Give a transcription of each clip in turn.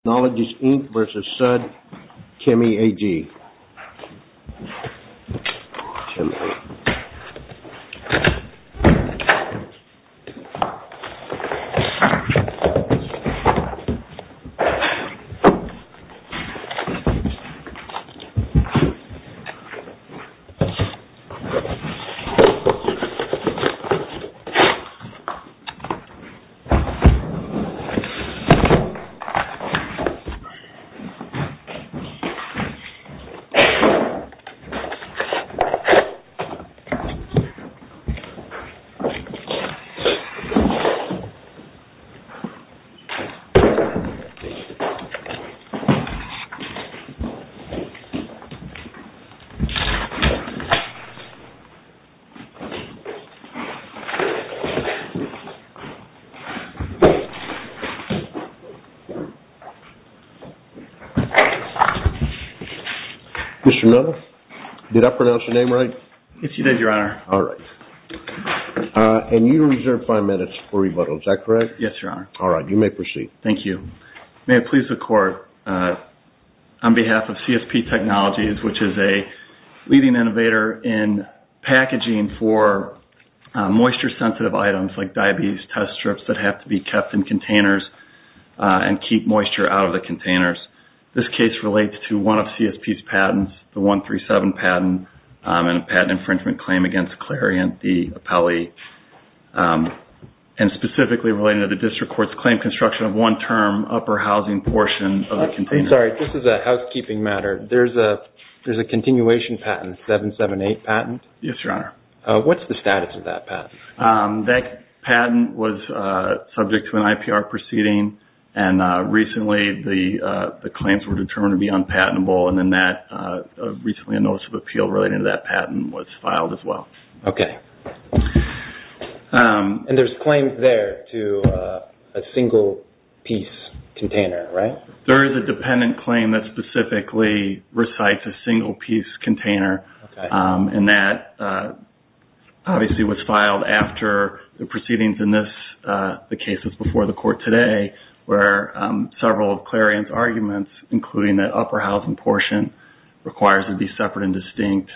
Technologies, Inc. v. Sud-Chemie AG v. Sud-Chieme, Inc. v. Sud-Chieme, Inc. v. Sud-Chieme, Inc. Mr. Nutter, did I pronounce your name right? Yes, you did, Your Honor. All right. And you are reserved five minutes for rebuttal. Is that correct? Yes, Your Honor. All right. You may proceed. Thank you. May it please the Court, on behalf of CSP Technologies, which is a leading innovator in packaging for moisture-sensitive items like diabetes test strips that have to be kept in containers and keep moisture out of the containers. This case relates to one of CSP's patents, the 137 patent, and a patent infringement claim against Clarion de Apelli, and specifically related to the District Court's claim construction of one-term upper housing portion of the container. I'm sorry. This is a housekeeping matter. There's a continuation patent, 778 patent. Yes, Your Honor. What's the status of that patent? That patent was subject to an IPR proceeding, and recently the claims were determined to be unpatentable, and then recently a notice of appeal relating to that patent was filed as well. Okay. And there's claims there to a single-piece container, right? There is a dependent claim that specifically recites a single-piece container, and that obviously was filed after the proceedings in the cases before the Court today, where several of Clarion's arguments, including that upper housing portion, requires it be separate and distinct.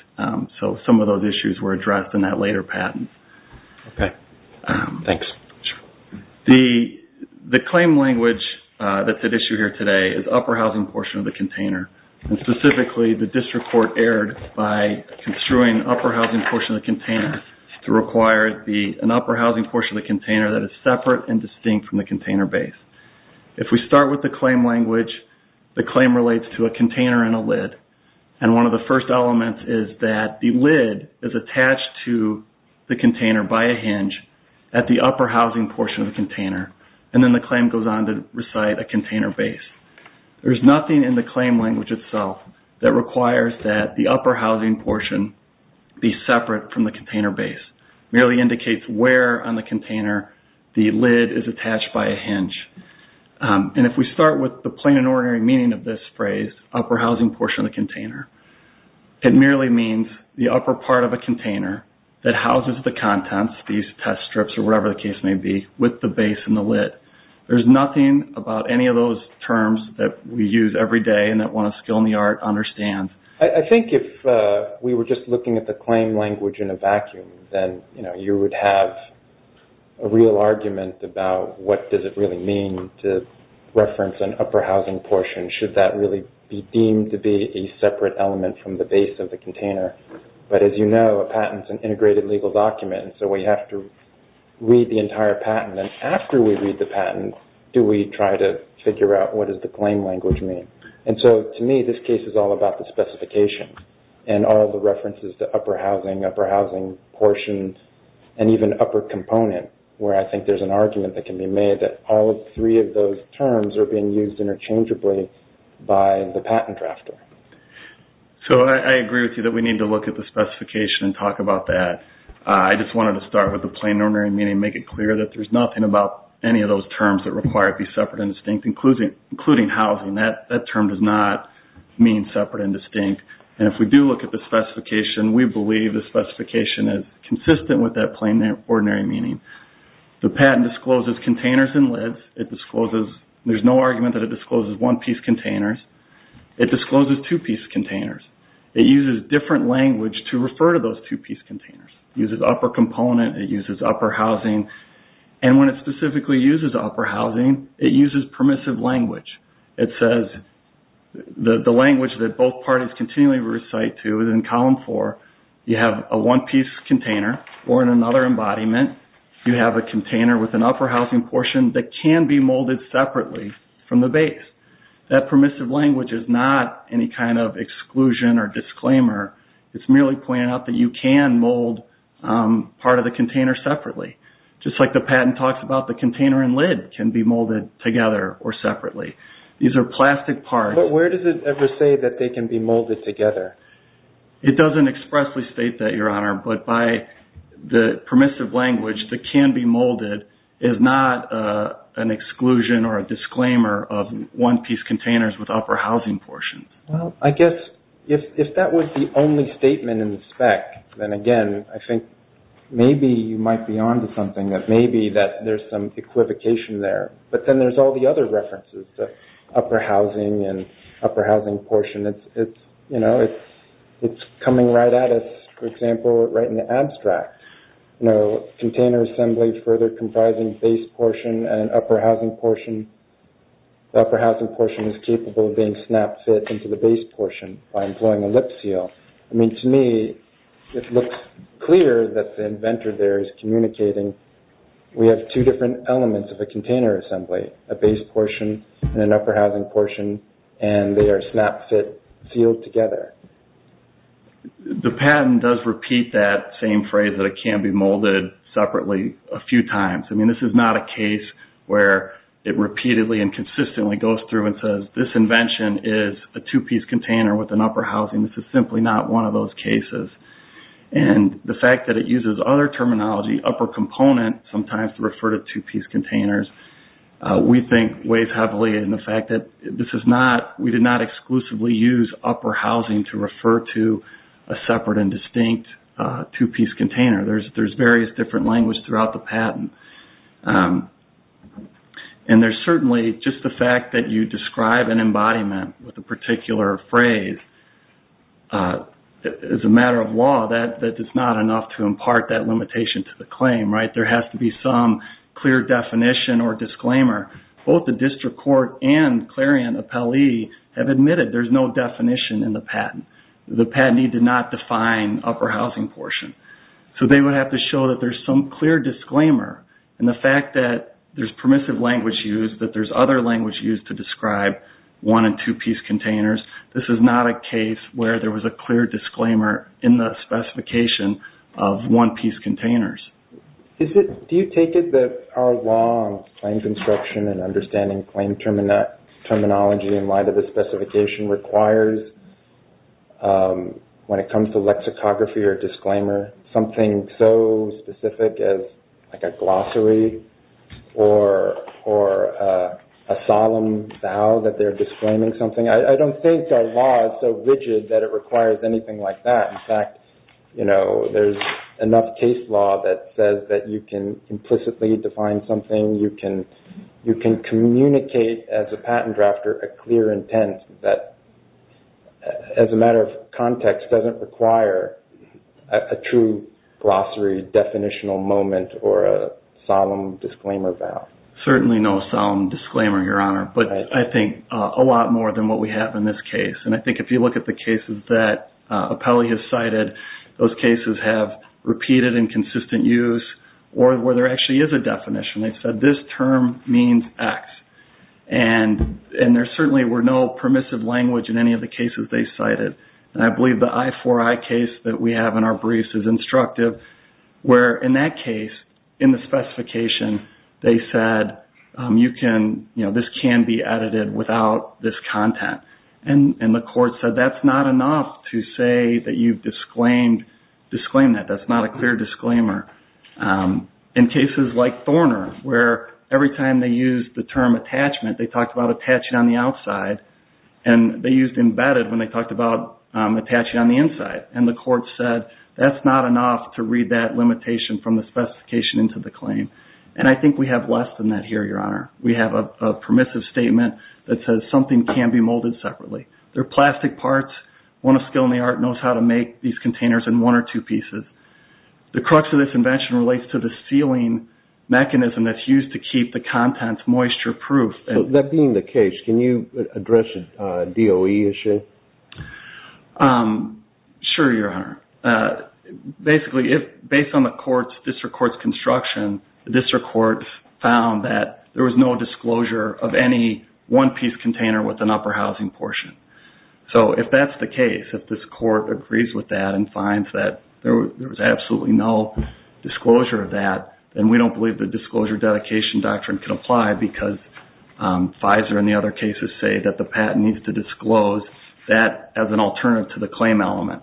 So, some of those issues were addressed in that later patent. Okay. Thanks. The claim language that's at issue here today is upper housing portion of the container, and specifically the District Court erred by construing upper housing portion of the container to require it be an upper housing portion of the container that is separate and distinct from the container base. If we start with the claim language, the claim relates to a container and a lid, and one of the first elements is that the lid is attached to the container by a hinge at the upper housing portion of the container, and then the claim goes on to recite a container base. There's nothing in the claim language itself that requires that the upper housing portion be separate from the container base. It merely indicates where on the container the lid is attached by a hinge. And if we start with the plain and ordinary meaning of this phrase, upper housing portion of the container, it merely means the upper part of a container that houses the contents, these test strips or whatever the case may be, with the base and the lid. There's nothing about any of those terms that we use every day and that one of skill and the art understands. I think if we were just looking at the claim language in a vacuum, then you would have a real argument about what does it really mean to reference an upper housing portion? Should that really be deemed to be a separate element from the base of the container? But as you know, a patent is an integrated legal document, so we have to read the entire patent. And after we read the patent, do we try to figure out what does the claim language mean? And so to me, this case is all about the specifications and all the references to upper housing, upper housing portions, and even upper component, where I think there's an argument that can be made that all three of those terms are being used interchangeably by the patent drafter. So I agree with you that we need to look at the specification and talk about that. I just wanted to start with the plain and ordinary meaning, make it clear that there's nothing about any of those terms that require it to be separate and distinct, including housing. That term does not mean separate and distinct. And if we do look at the specification, we believe the specification is consistent with that plain and ordinary meaning. The patent discloses containers and lids. There's no argument that it discloses one-piece containers. It discloses two-piece containers. It uses different language to refer to those two-piece containers. It uses upper component. It uses upper housing. And when it specifically uses upper housing, it uses permissive language. It says the language that both parties continually recite to is in column four. You have a one-piece container or in another embodiment, you have a container with an upper housing portion that can be molded separately from the base. That permissive language is not any kind of exclusion or disclaimer. It's merely pointing out that you can mold part of the container separately. Just like the patent talks about the container and lid can be molded together or separately. These are plastic parts. But where does it ever say that they can be molded together? It doesn't expressly state that, Your Honor, but by the permissive language, the can be molded is not an exclusion or a disclaimer of one-piece containers with upper housing portions. Well, I guess if that was the only statement in the spec, then, again, I think maybe you might be on to something that maybe there's some equivocation there. But then there's all the other references, the upper housing and upper housing portion. It's coming right at us, for example, right in the abstract. Container assembly further comprising base portion and upper housing portion. The upper housing portion is capable of being snap fit into the base portion by employing a lip seal. I mean, to me, it looks clear that the inventor there is communicating we have two different elements of a container assembly, a base portion and an upper housing portion, and they are snap fit sealed together. The patent does repeat that same phrase that it can be molded separately a few times. I mean, this is not a case where it repeatedly and consistently goes through and says, This invention is a two-piece container with an upper housing. This is simply not one of those cases. And the fact that it uses other terminology, upper component, sometimes to refer to two-piece containers, we think weighs heavily in the fact that we did not exclusively use upper housing to refer to a separate and distinct two-piece container. There is various different language throughout the patent. And there is certainly just the fact that you describe an embodiment with a particular phrase, as a matter of law, that is not enough to impart that limitation to the claim, right? There has to be some clear definition or disclaimer. Both the district court and clarion appellee have admitted there is no definition in the patent. The patentee did not define upper housing portion. So they would have to show that there is some clear disclaimer. And the fact that there is permissive language used, that there is other language used to describe one and two-piece containers, this is not a case where there was a clear disclaimer in the specification of one-piece containers. Do you take it that our law on claim construction and understanding claim terminology in light of the specification requires, when it comes to lexicography or disclaimer, something so specific as like a glossary or a solemn vow that they are disclaiming something? I don't think our law is so rigid that it requires anything like that. In fact, there is enough case law that says that you can implicitly define something, you can communicate as a patent drafter a clear intent that, as a matter of context, doesn't require a true glossary, definitional moment, or a solemn disclaimer vow. Certainly no solemn disclaimer, Your Honor. But I think a lot more than what we have in this case. And I think if you look at the cases that Apelli has cited, those cases have repeated and consistent use, or where there actually is a definition. They said this term means X. And there certainly were no permissive language in any of the cases they cited. And I believe the I4I case that we have in our briefs is instructive, where in that case, in the specification, they said this can be edited without this content. And the court said that's not enough to say that you've disclaimed that. That's not a clear disclaimer. In cases like Thorner, where every time they used the term attachment, they talked about attaching on the outside, and they used embedded when they talked about attaching on the inside. And the court said that's not enough to read that limitation from the specification into the claim. And I think we have less than that here, Your Honor. We have a permissive statement that says something can be molded separately. They're plastic parts. One of skill in the art knows how to make these containers in one or two pieces. The crux of this invention relates to the sealing mechanism that's used to keep the contents moisture-proof. That being the case, can you address a DOE issue? Sure, Your Honor. Basically, based on the district court's construction, the district court found that there was no disclosure of any one-piece container with an upper housing portion. So if that's the case, if this court agrees with that and finds that there was absolutely no disclosure of that, then we don't believe the disclosure dedication doctrine can apply because Pfizer and the other cases say that the patent needs to disclose that as an alternative to the claim element.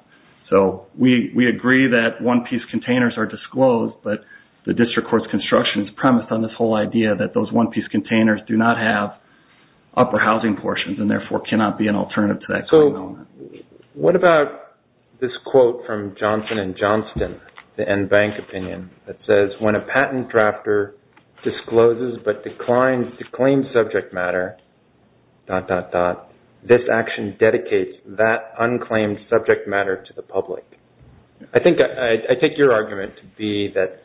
So we agree that one-piece containers are disclosed, but the district court's construction is premised on this whole idea that those one-piece containers do not have upper housing portions and therefore cannot be an alternative to that claim element. So what about this quote from Johnson & Johnston, the NBank opinion, that says, when a patent drafter discloses but declaims subject matter, dot, dot, dot, this action dedicates that unclaimed subject matter to the public. I take your argument to be that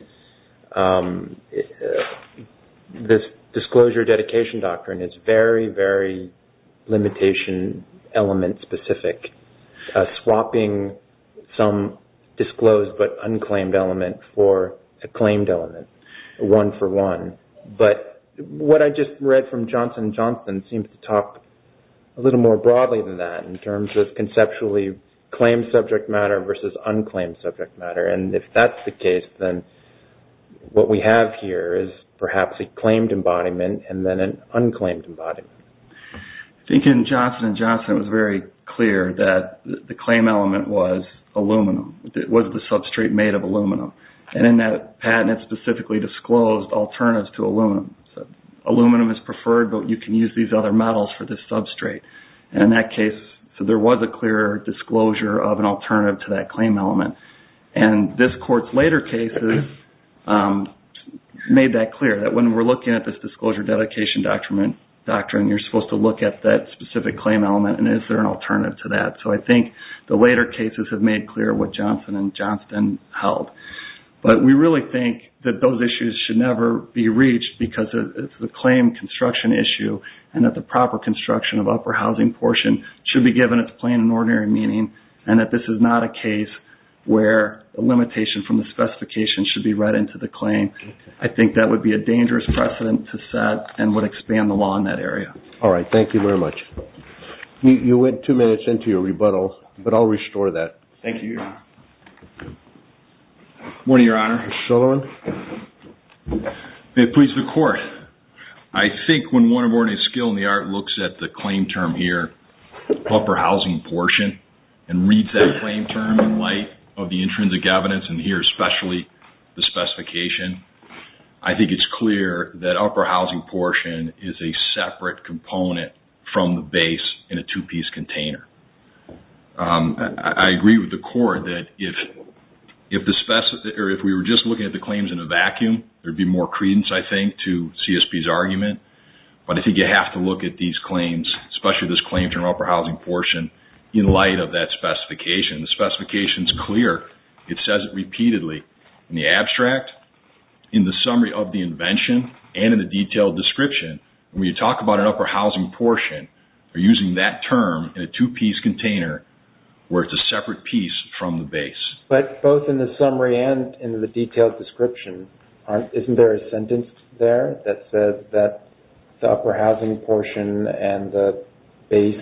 this disclosure dedication doctrine is very, very limitation element specific, swapping some disclosed but unclaimed element for a claimed element, one for one. But what I just read from Johnson & Johnston seems to talk a little more broadly than that in terms of conceptually claimed subject matter versus unclaimed subject matter. And if that's the case, then what we have here is perhaps a claimed embodiment and then an unclaimed embodiment. I think in Johnson & Johnston, it was very clear that the claim element was aluminum, that it was the substrate made of aluminum. And in that patent, it specifically disclosed alternatives to aluminum. So aluminum is preferred, but you can use these other metals for this substrate. And in that case, there was a clear disclosure of an alternative to that claim element. And this court's later cases made that clear, that when we're looking at this disclosure dedication doctrine, you're supposed to look at that specific claim element and is there an alternative to that. So I think the later cases have made clear what Johnson & Johnston held. But we really think that those issues should never be reached because it's a claim construction issue and that the proper construction of upper housing portion should be given its plain and ordinary meaning and that this is not a case where a limitation from the specification should be read into the claim. I think that would be a dangerous precedent to set and would expand the law in that area. All right. Thank you very much. You went two minutes into your rebuttal, but I'll restore that. Thank you, Your Honor. Morning, Your Honor. Mr. Sullivan. May it please the Court. I think when one of ordinary skill in the art looks at the claim term here, upper housing portion, and reads that claim term in light of the intrinsic evidence and here especially the specification, I think it's clear that upper housing portion is a separate component from the base in a two-piece container. I agree with the Court that if we were just looking at the claims in a vacuum, there would be more credence, I think, to CSP's argument. But I think you have to look at these claims, especially this claim term upper housing portion, in light of that specification. The specification is clear. It says it repeatedly in the abstract, in the summary of the invention, and in the detailed description. When you talk about an upper housing portion, you're using that term in a two-piece container where it's a separate piece from the base. But both in the summary and in the detailed description, isn't there a sentence there that says that the upper housing portion and the base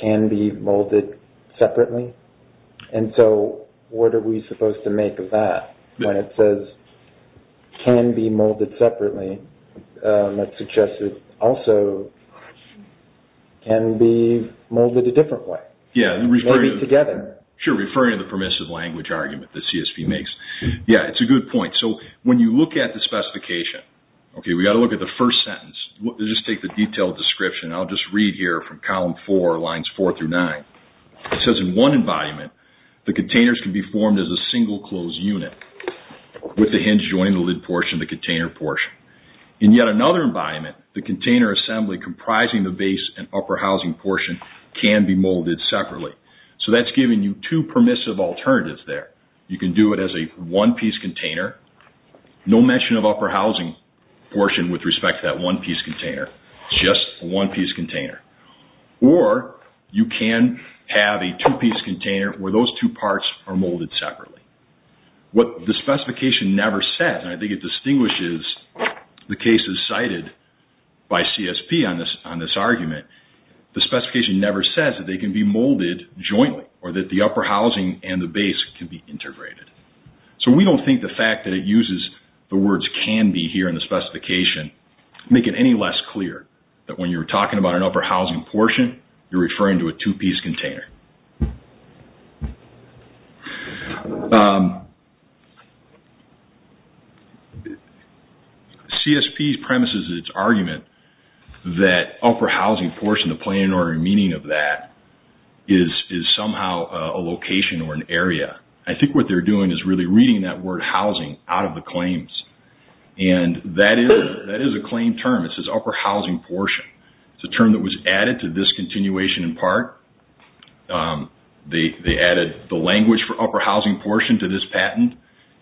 can be molded separately? And so what are we supposed to make of that when it says can be molded separately? That suggests it also can be molded a different way, maybe together. Sure, referring to the permissive language argument that CSP makes. Yeah, it's a good point. So when you look at the specification, okay, we've got to look at the first sentence. Let's just take the detailed description. I'll just read here from column four, lines four through nine. It says in one environment, the containers can be formed as a single closed unit with the hinge joining the lid portion, the container portion. In yet another environment, the container assembly comprising the base and upper housing portion can be molded separately. So that's giving you two permissive alternatives there. You can do it as a one-piece container. No mention of upper housing portion with respect to that one-piece container. Just a one-piece container. Or you can have a two-piece container where those two parts are molded separately. What the specification never says, and I think it distinguishes the cases cited by CSP on this argument, the specification never says that they can be molded jointly or that the upper housing and the base can be integrated. So we don't think the fact that it uses the words can be here in the specification make it any less clear that when you're talking about an upper housing portion, you're referring to a two-piece container. CSP's premise is its argument that upper housing portion, the planning and ordering meaning of that, is somehow a location or an area. I think what they're doing is really reading that word housing out of the claims. And that is a claim term. It says upper housing portion. It's a term that was added to this continuation in part. They added the language for upper housing portion to this patent.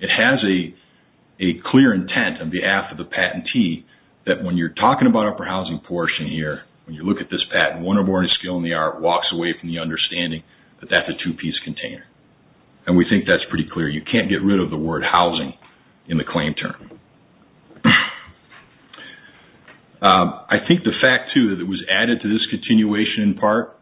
It has a clear intent on behalf of the patentee that when you're talking about upper housing portion here, when you look at this patent, one or more skill in the art walks away from the understanding that that's a two-piece container. And we think that's pretty clear. You can't get rid of the word housing in the claim term. I think the fact, too, that it was added to this continuation in part,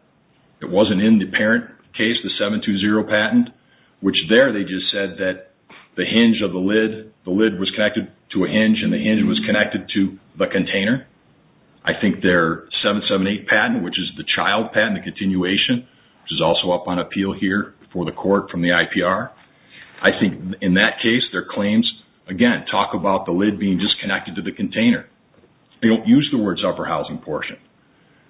it wasn't in the parent case, the 720 patent, which there they just said that the hinge of the lid, the lid was connected to a hinge and the hinge was connected to the container. I think their 778 patent, which is the child patent, the continuation, which is also up on appeal here before the court from the IPR. I think in that case, their claims, again, talk about the lid being disconnected to the container. They don't use the words upper housing portion.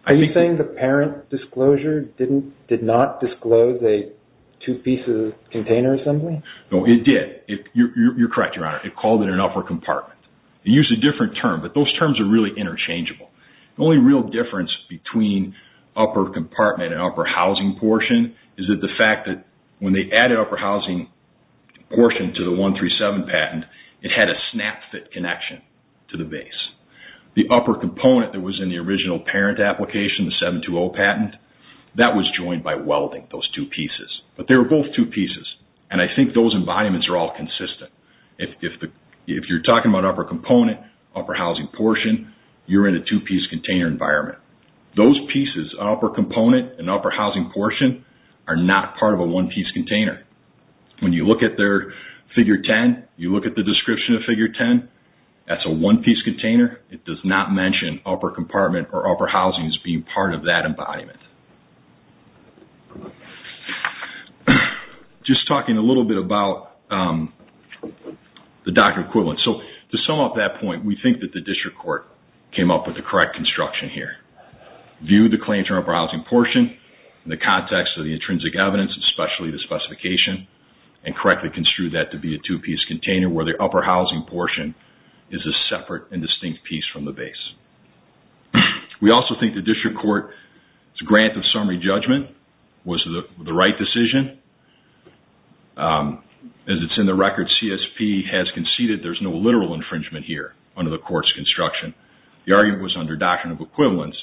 Are you saying the parent disclosure did not disclose a two-piece container assembly? No, it did. You're correct, Your Honor. It called it an upper compartment. They used a different term, but those terms are really interchangeable. The only real difference between upper compartment and upper housing portion is that the fact that when they added upper housing portion to the 137 patent, it had a snap-fit connection to the base. The upper component that was in the original parent application, the 720 patent, that was joined by welding, those two pieces. But they were both two pieces, and I think those environments are all consistent. If you're talking about upper component, upper housing portion, you're in a two-piece container environment. Those pieces, upper component and upper housing portion, are not part of a one-piece container. When you look at their figure 10, you look at the description of figure 10, that's a one-piece container. It does not mention upper compartment or upper housing as being part of that embodiment. Just talking a little bit about the doctor equivalent. To sum up that point, we think that the district court came up with the correct construction here. Viewed the claims for upper housing portion in the context of the intrinsic evidence, especially the specification, and correctly construed that to be a two-piece container where the upper housing portion is a separate and distinct piece from the base. We also think the district court's grant of summary judgment was the right decision. As it's in the record, CSP has conceded there's no literal infringement here under the court's construction. The argument was under doctrine of equivalence.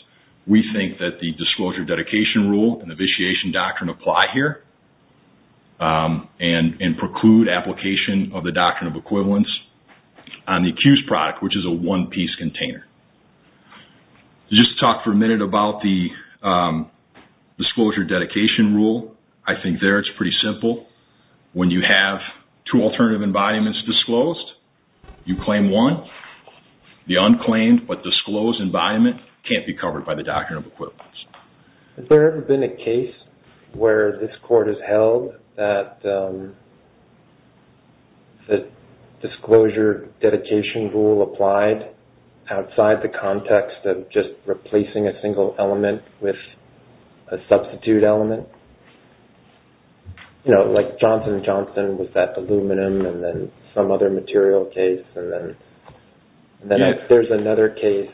We think that the disclosure dedication rule and the vitiation doctrine apply here and preclude application of the doctrine of equivalence on the accused product, which is a one-piece container. Just talk for a minute about the disclosure dedication rule. I think there it's pretty simple. When you have two alternative embodiments disclosed, you claim one. The unclaimed but disclosed embodiment can't be covered by the doctrine of equivalence. Has there ever been a case where this court has held that the disclosure dedication rule applied outside the context of just replacing a single element with a substitute element? Like Johnson & Johnson with that aluminum and then some other material case. Then there's another case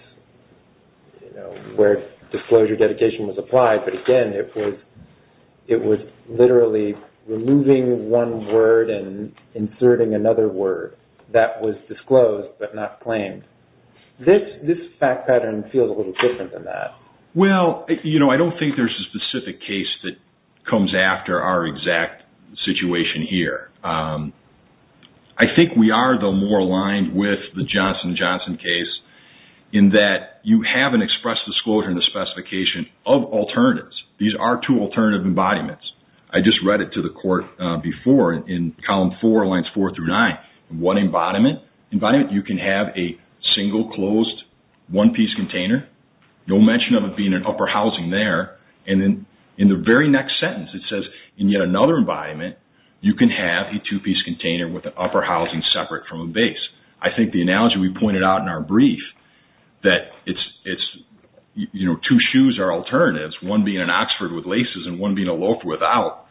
where disclosure dedication was applied, but again it was literally removing one word and inserting another word that was disclosed but not claimed. This fact pattern feels a little different than that. I don't think there's a specific case that comes after our exact situation here. I think we are, though, more aligned with the Johnson & Johnson case in that you haven't expressed disclosure in the specification of alternatives. These are two alternative embodiments. I just read it to the court before in column four, lines four through nine. In one embodiment, you can have a single closed one-piece container, no mention of it being an upper housing there. In the very next sentence, it says, in yet another embodiment, you can have a two-piece container with an upper housing separate from a base. I think the analogy we pointed out in our brief that two shoes are alternatives, one being an Oxford with laces and one being a loaf without,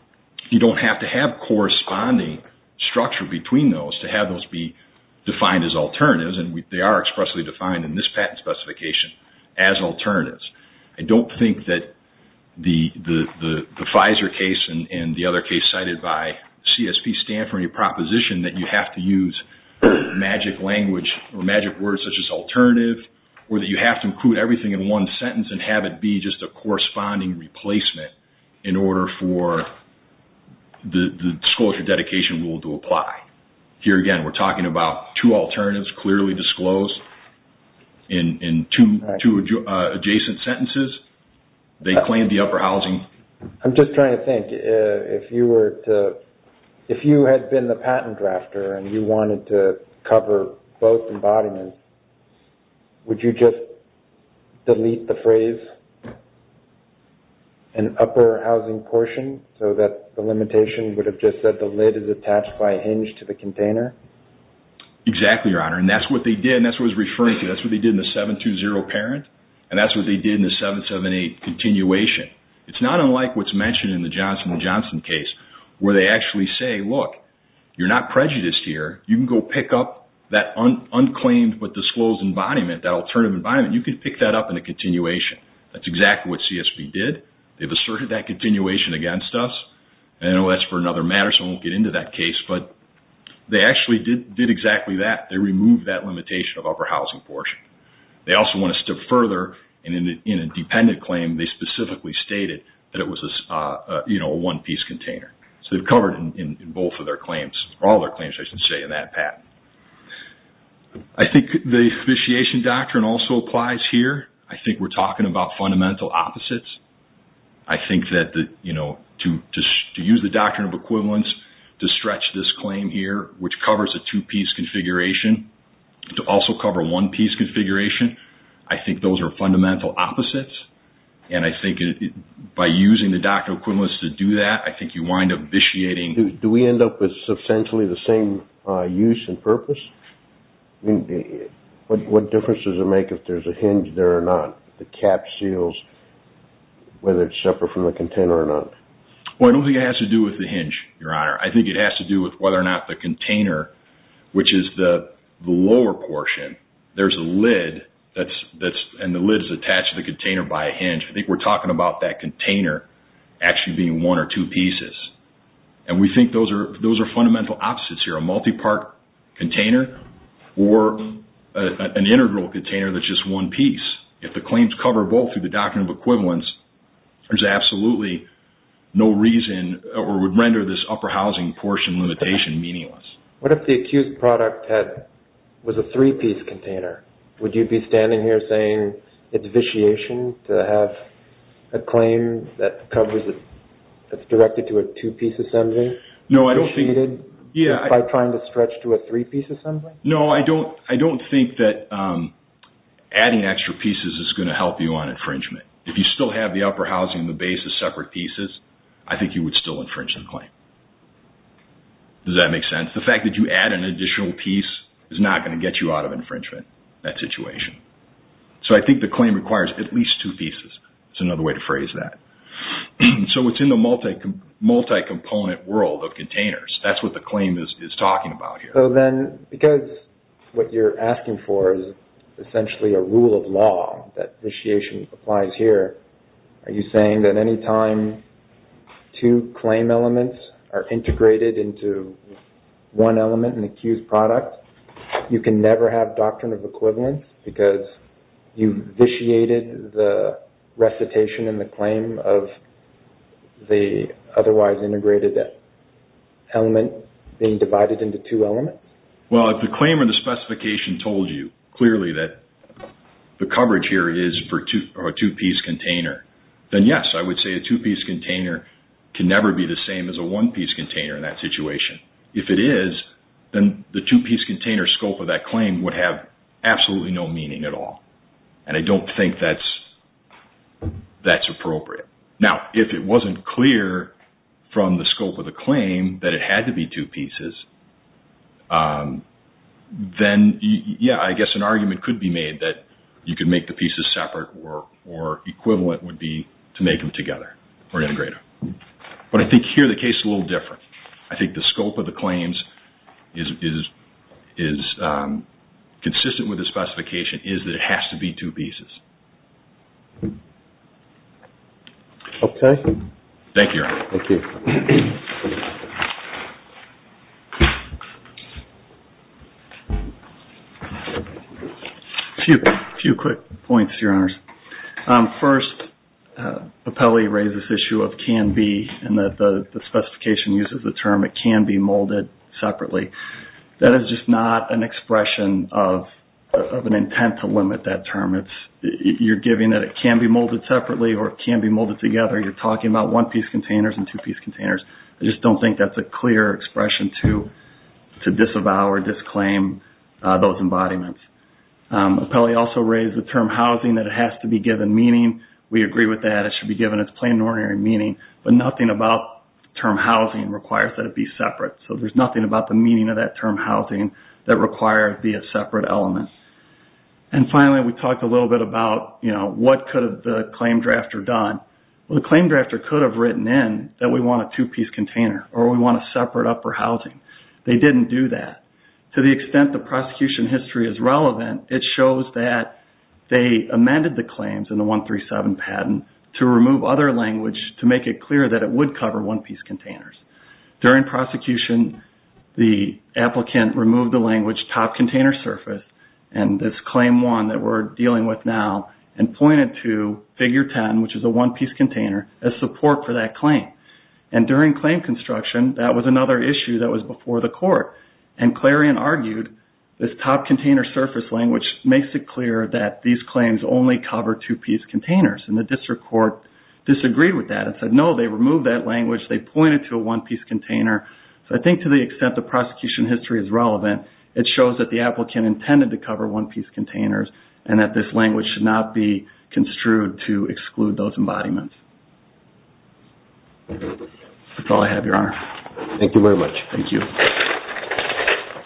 you don't have to have corresponding structure between those to have those be defined as alternatives. They are expressly defined in this patent specification as alternatives. I don't think that the FISER case and the other case cited by CSP stand for any proposition that you have to use magic language or magic words such as alternative or that you have to include everything in one sentence and have it be just a corresponding replacement in order for the disclosure dedication rule to apply. Here again, we're talking about two alternatives clearly disclosed in two adjacent sentences. They claim the upper housing. I'm just trying to think. If you had been the patent drafter and you wanted to cover both embodiments, would you just delete the phrase, an upper housing portion, so that the limitation would have just said the lid is attached by a hinge to the container? Exactly, Your Honor, and that's what they did. That's what I was referring to. That's what they did in the 720 parent, and that's what they did in the 778 continuation. It's not unlike what's mentioned in the Johnson & Johnson case where they actually say, look, you're not prejudiced here. You can go pick up that unclaimed but disclosed embodiment, that alternative embodiment. You can pick that up in a continuation. That's exactly what CSP did. They've asserted that continuation against us, and that's for another matter, so I won't get into that case, but they actually did exactly that. They removed that limitation of upper housing portion. They also went a step further, and in a dependent claim, they specifically stated that it was a one-piece container. So they've covered in both of their claims, or all their claims, I should say, in that patent. I think the officiation doctrine also applies here. I think we're talking about fundamental opposites. I think that to use the doctrine of equivalence to stretch this claim here, which covers a two-piece configuration, to also cover a one-piece configuration, I think those are fundamental opposites, and I think by using the doctrine of equivalence to do that, I think you wind up vitiating. Do we end up with substantially the same use and purpose? What difference does it make if there's a hinge there or not, the cap seals, whether it's separate from the container or not? Well, I don't think it has to do with the hinge, Your Honor. I think it has to do with whether or not the container, which is the lower portion, there's a lid, and the lid is attached to the container by a hinge. I think we're talking about that container actually being one or two pieces, and we think those are fundamental opposites here. Whether it's a multi-part container or an integral container that's just one piece, if the claims cover both through the doctrine of equivalence, there's absolutely no reason or would render this upper housing portion limitation meaningless. What if the accused product was a three-piece container? Would you be standing here saying it's vitiation to have a claim that covers it, that's directed to a two-piece assembly? By trying to stretch to a three-piece assembly? No, I don't think that adding extra pieces is going to help you on infringement. If you still have the upper housing and the base as separate pieces, I think you would still infringe the claim. Does that make sense? The fact that you add an additional piece is not going to get you out of infringement, that situation. So I think the claim requires at least two pieces. That's another way to phrase that. So it's in the multi-component world of containers. That's what the claim is talking about here. Because what you're asking for is essentially a rule of law that vitiation applies here, are you saying that any time two claim elements are integrated into one element in the accused product, you can never have doctrine of equivalence because you vitiated the recitation and the claim of the otherwise integrated element being divided into two elements? Well, if the claim or the specification told you clearly that the coverage here is for a two-piece container, then yes, I would say a two-piece container can never be the same as a one-piece container in that situation. If it is, then the two-piece container scope of that claim would have absolutely no meaning at all. And I don't think that's appropriate. Now, if it wasn't clear from the scope of the claim that it had to be two pieces, then yeah, I guess an argument could be made that you could make the pieces separate or equivalent would be to make them together or integrate them. But I think here the case is a little different. I think the scope of the claims is consistent with the specification is that it has to be two pieces. Okay. Thank you, Your Honor. Thank you. A few quick points, Your Honors. First, Apelli raised this issue of can be and that the specification uses the term it can be molded separately. That is just not an expression of an intent to limit that term. You're giving that it can be molded separately or it can be molded together. You're talking about one-piece containers and two-piece containers. I just don't think that's a clear expression to disavow or disclaim those embodiments. Apelli also raised the term housing that it has to be given meaning. We agree with that. It should be given its plain and ordinary meaning. But nothing about term housing requires that it be separate. So there's nothing about the meaning of that term housing that requires it be a separate element. And finally, we talked a little bit about what could the claim drafter have done. Well, the claim drafter could have written in that we want a two-piece container or we want a separate upper housing. They didn't do that. To the extent the prosecution history is relevant, it shows that they amended the claims in the 137 patent to remove other language to make it clear that it would cover one-piece containers. During prosecution, the applicant removed the language top container surface and this Claim 1 that we're dealing with now and pointed to Figure 10, which is a one-piece container, as support for that claim. And during claim construction, that was another issue that was before the court and Clarion argued this top container surface language makes it clear that these claims only cover two-piece containers. And the district court disagreed with that and said, no, they removed that language. They pointed to a one-piece container. So I think to the extent the prosecution history is relevant, it shows that the applicant intended to cover one-piece containers and that this language should not be construed to exclude those embodiments. That's all I have, Your Honor. Thank you very much. Thank you.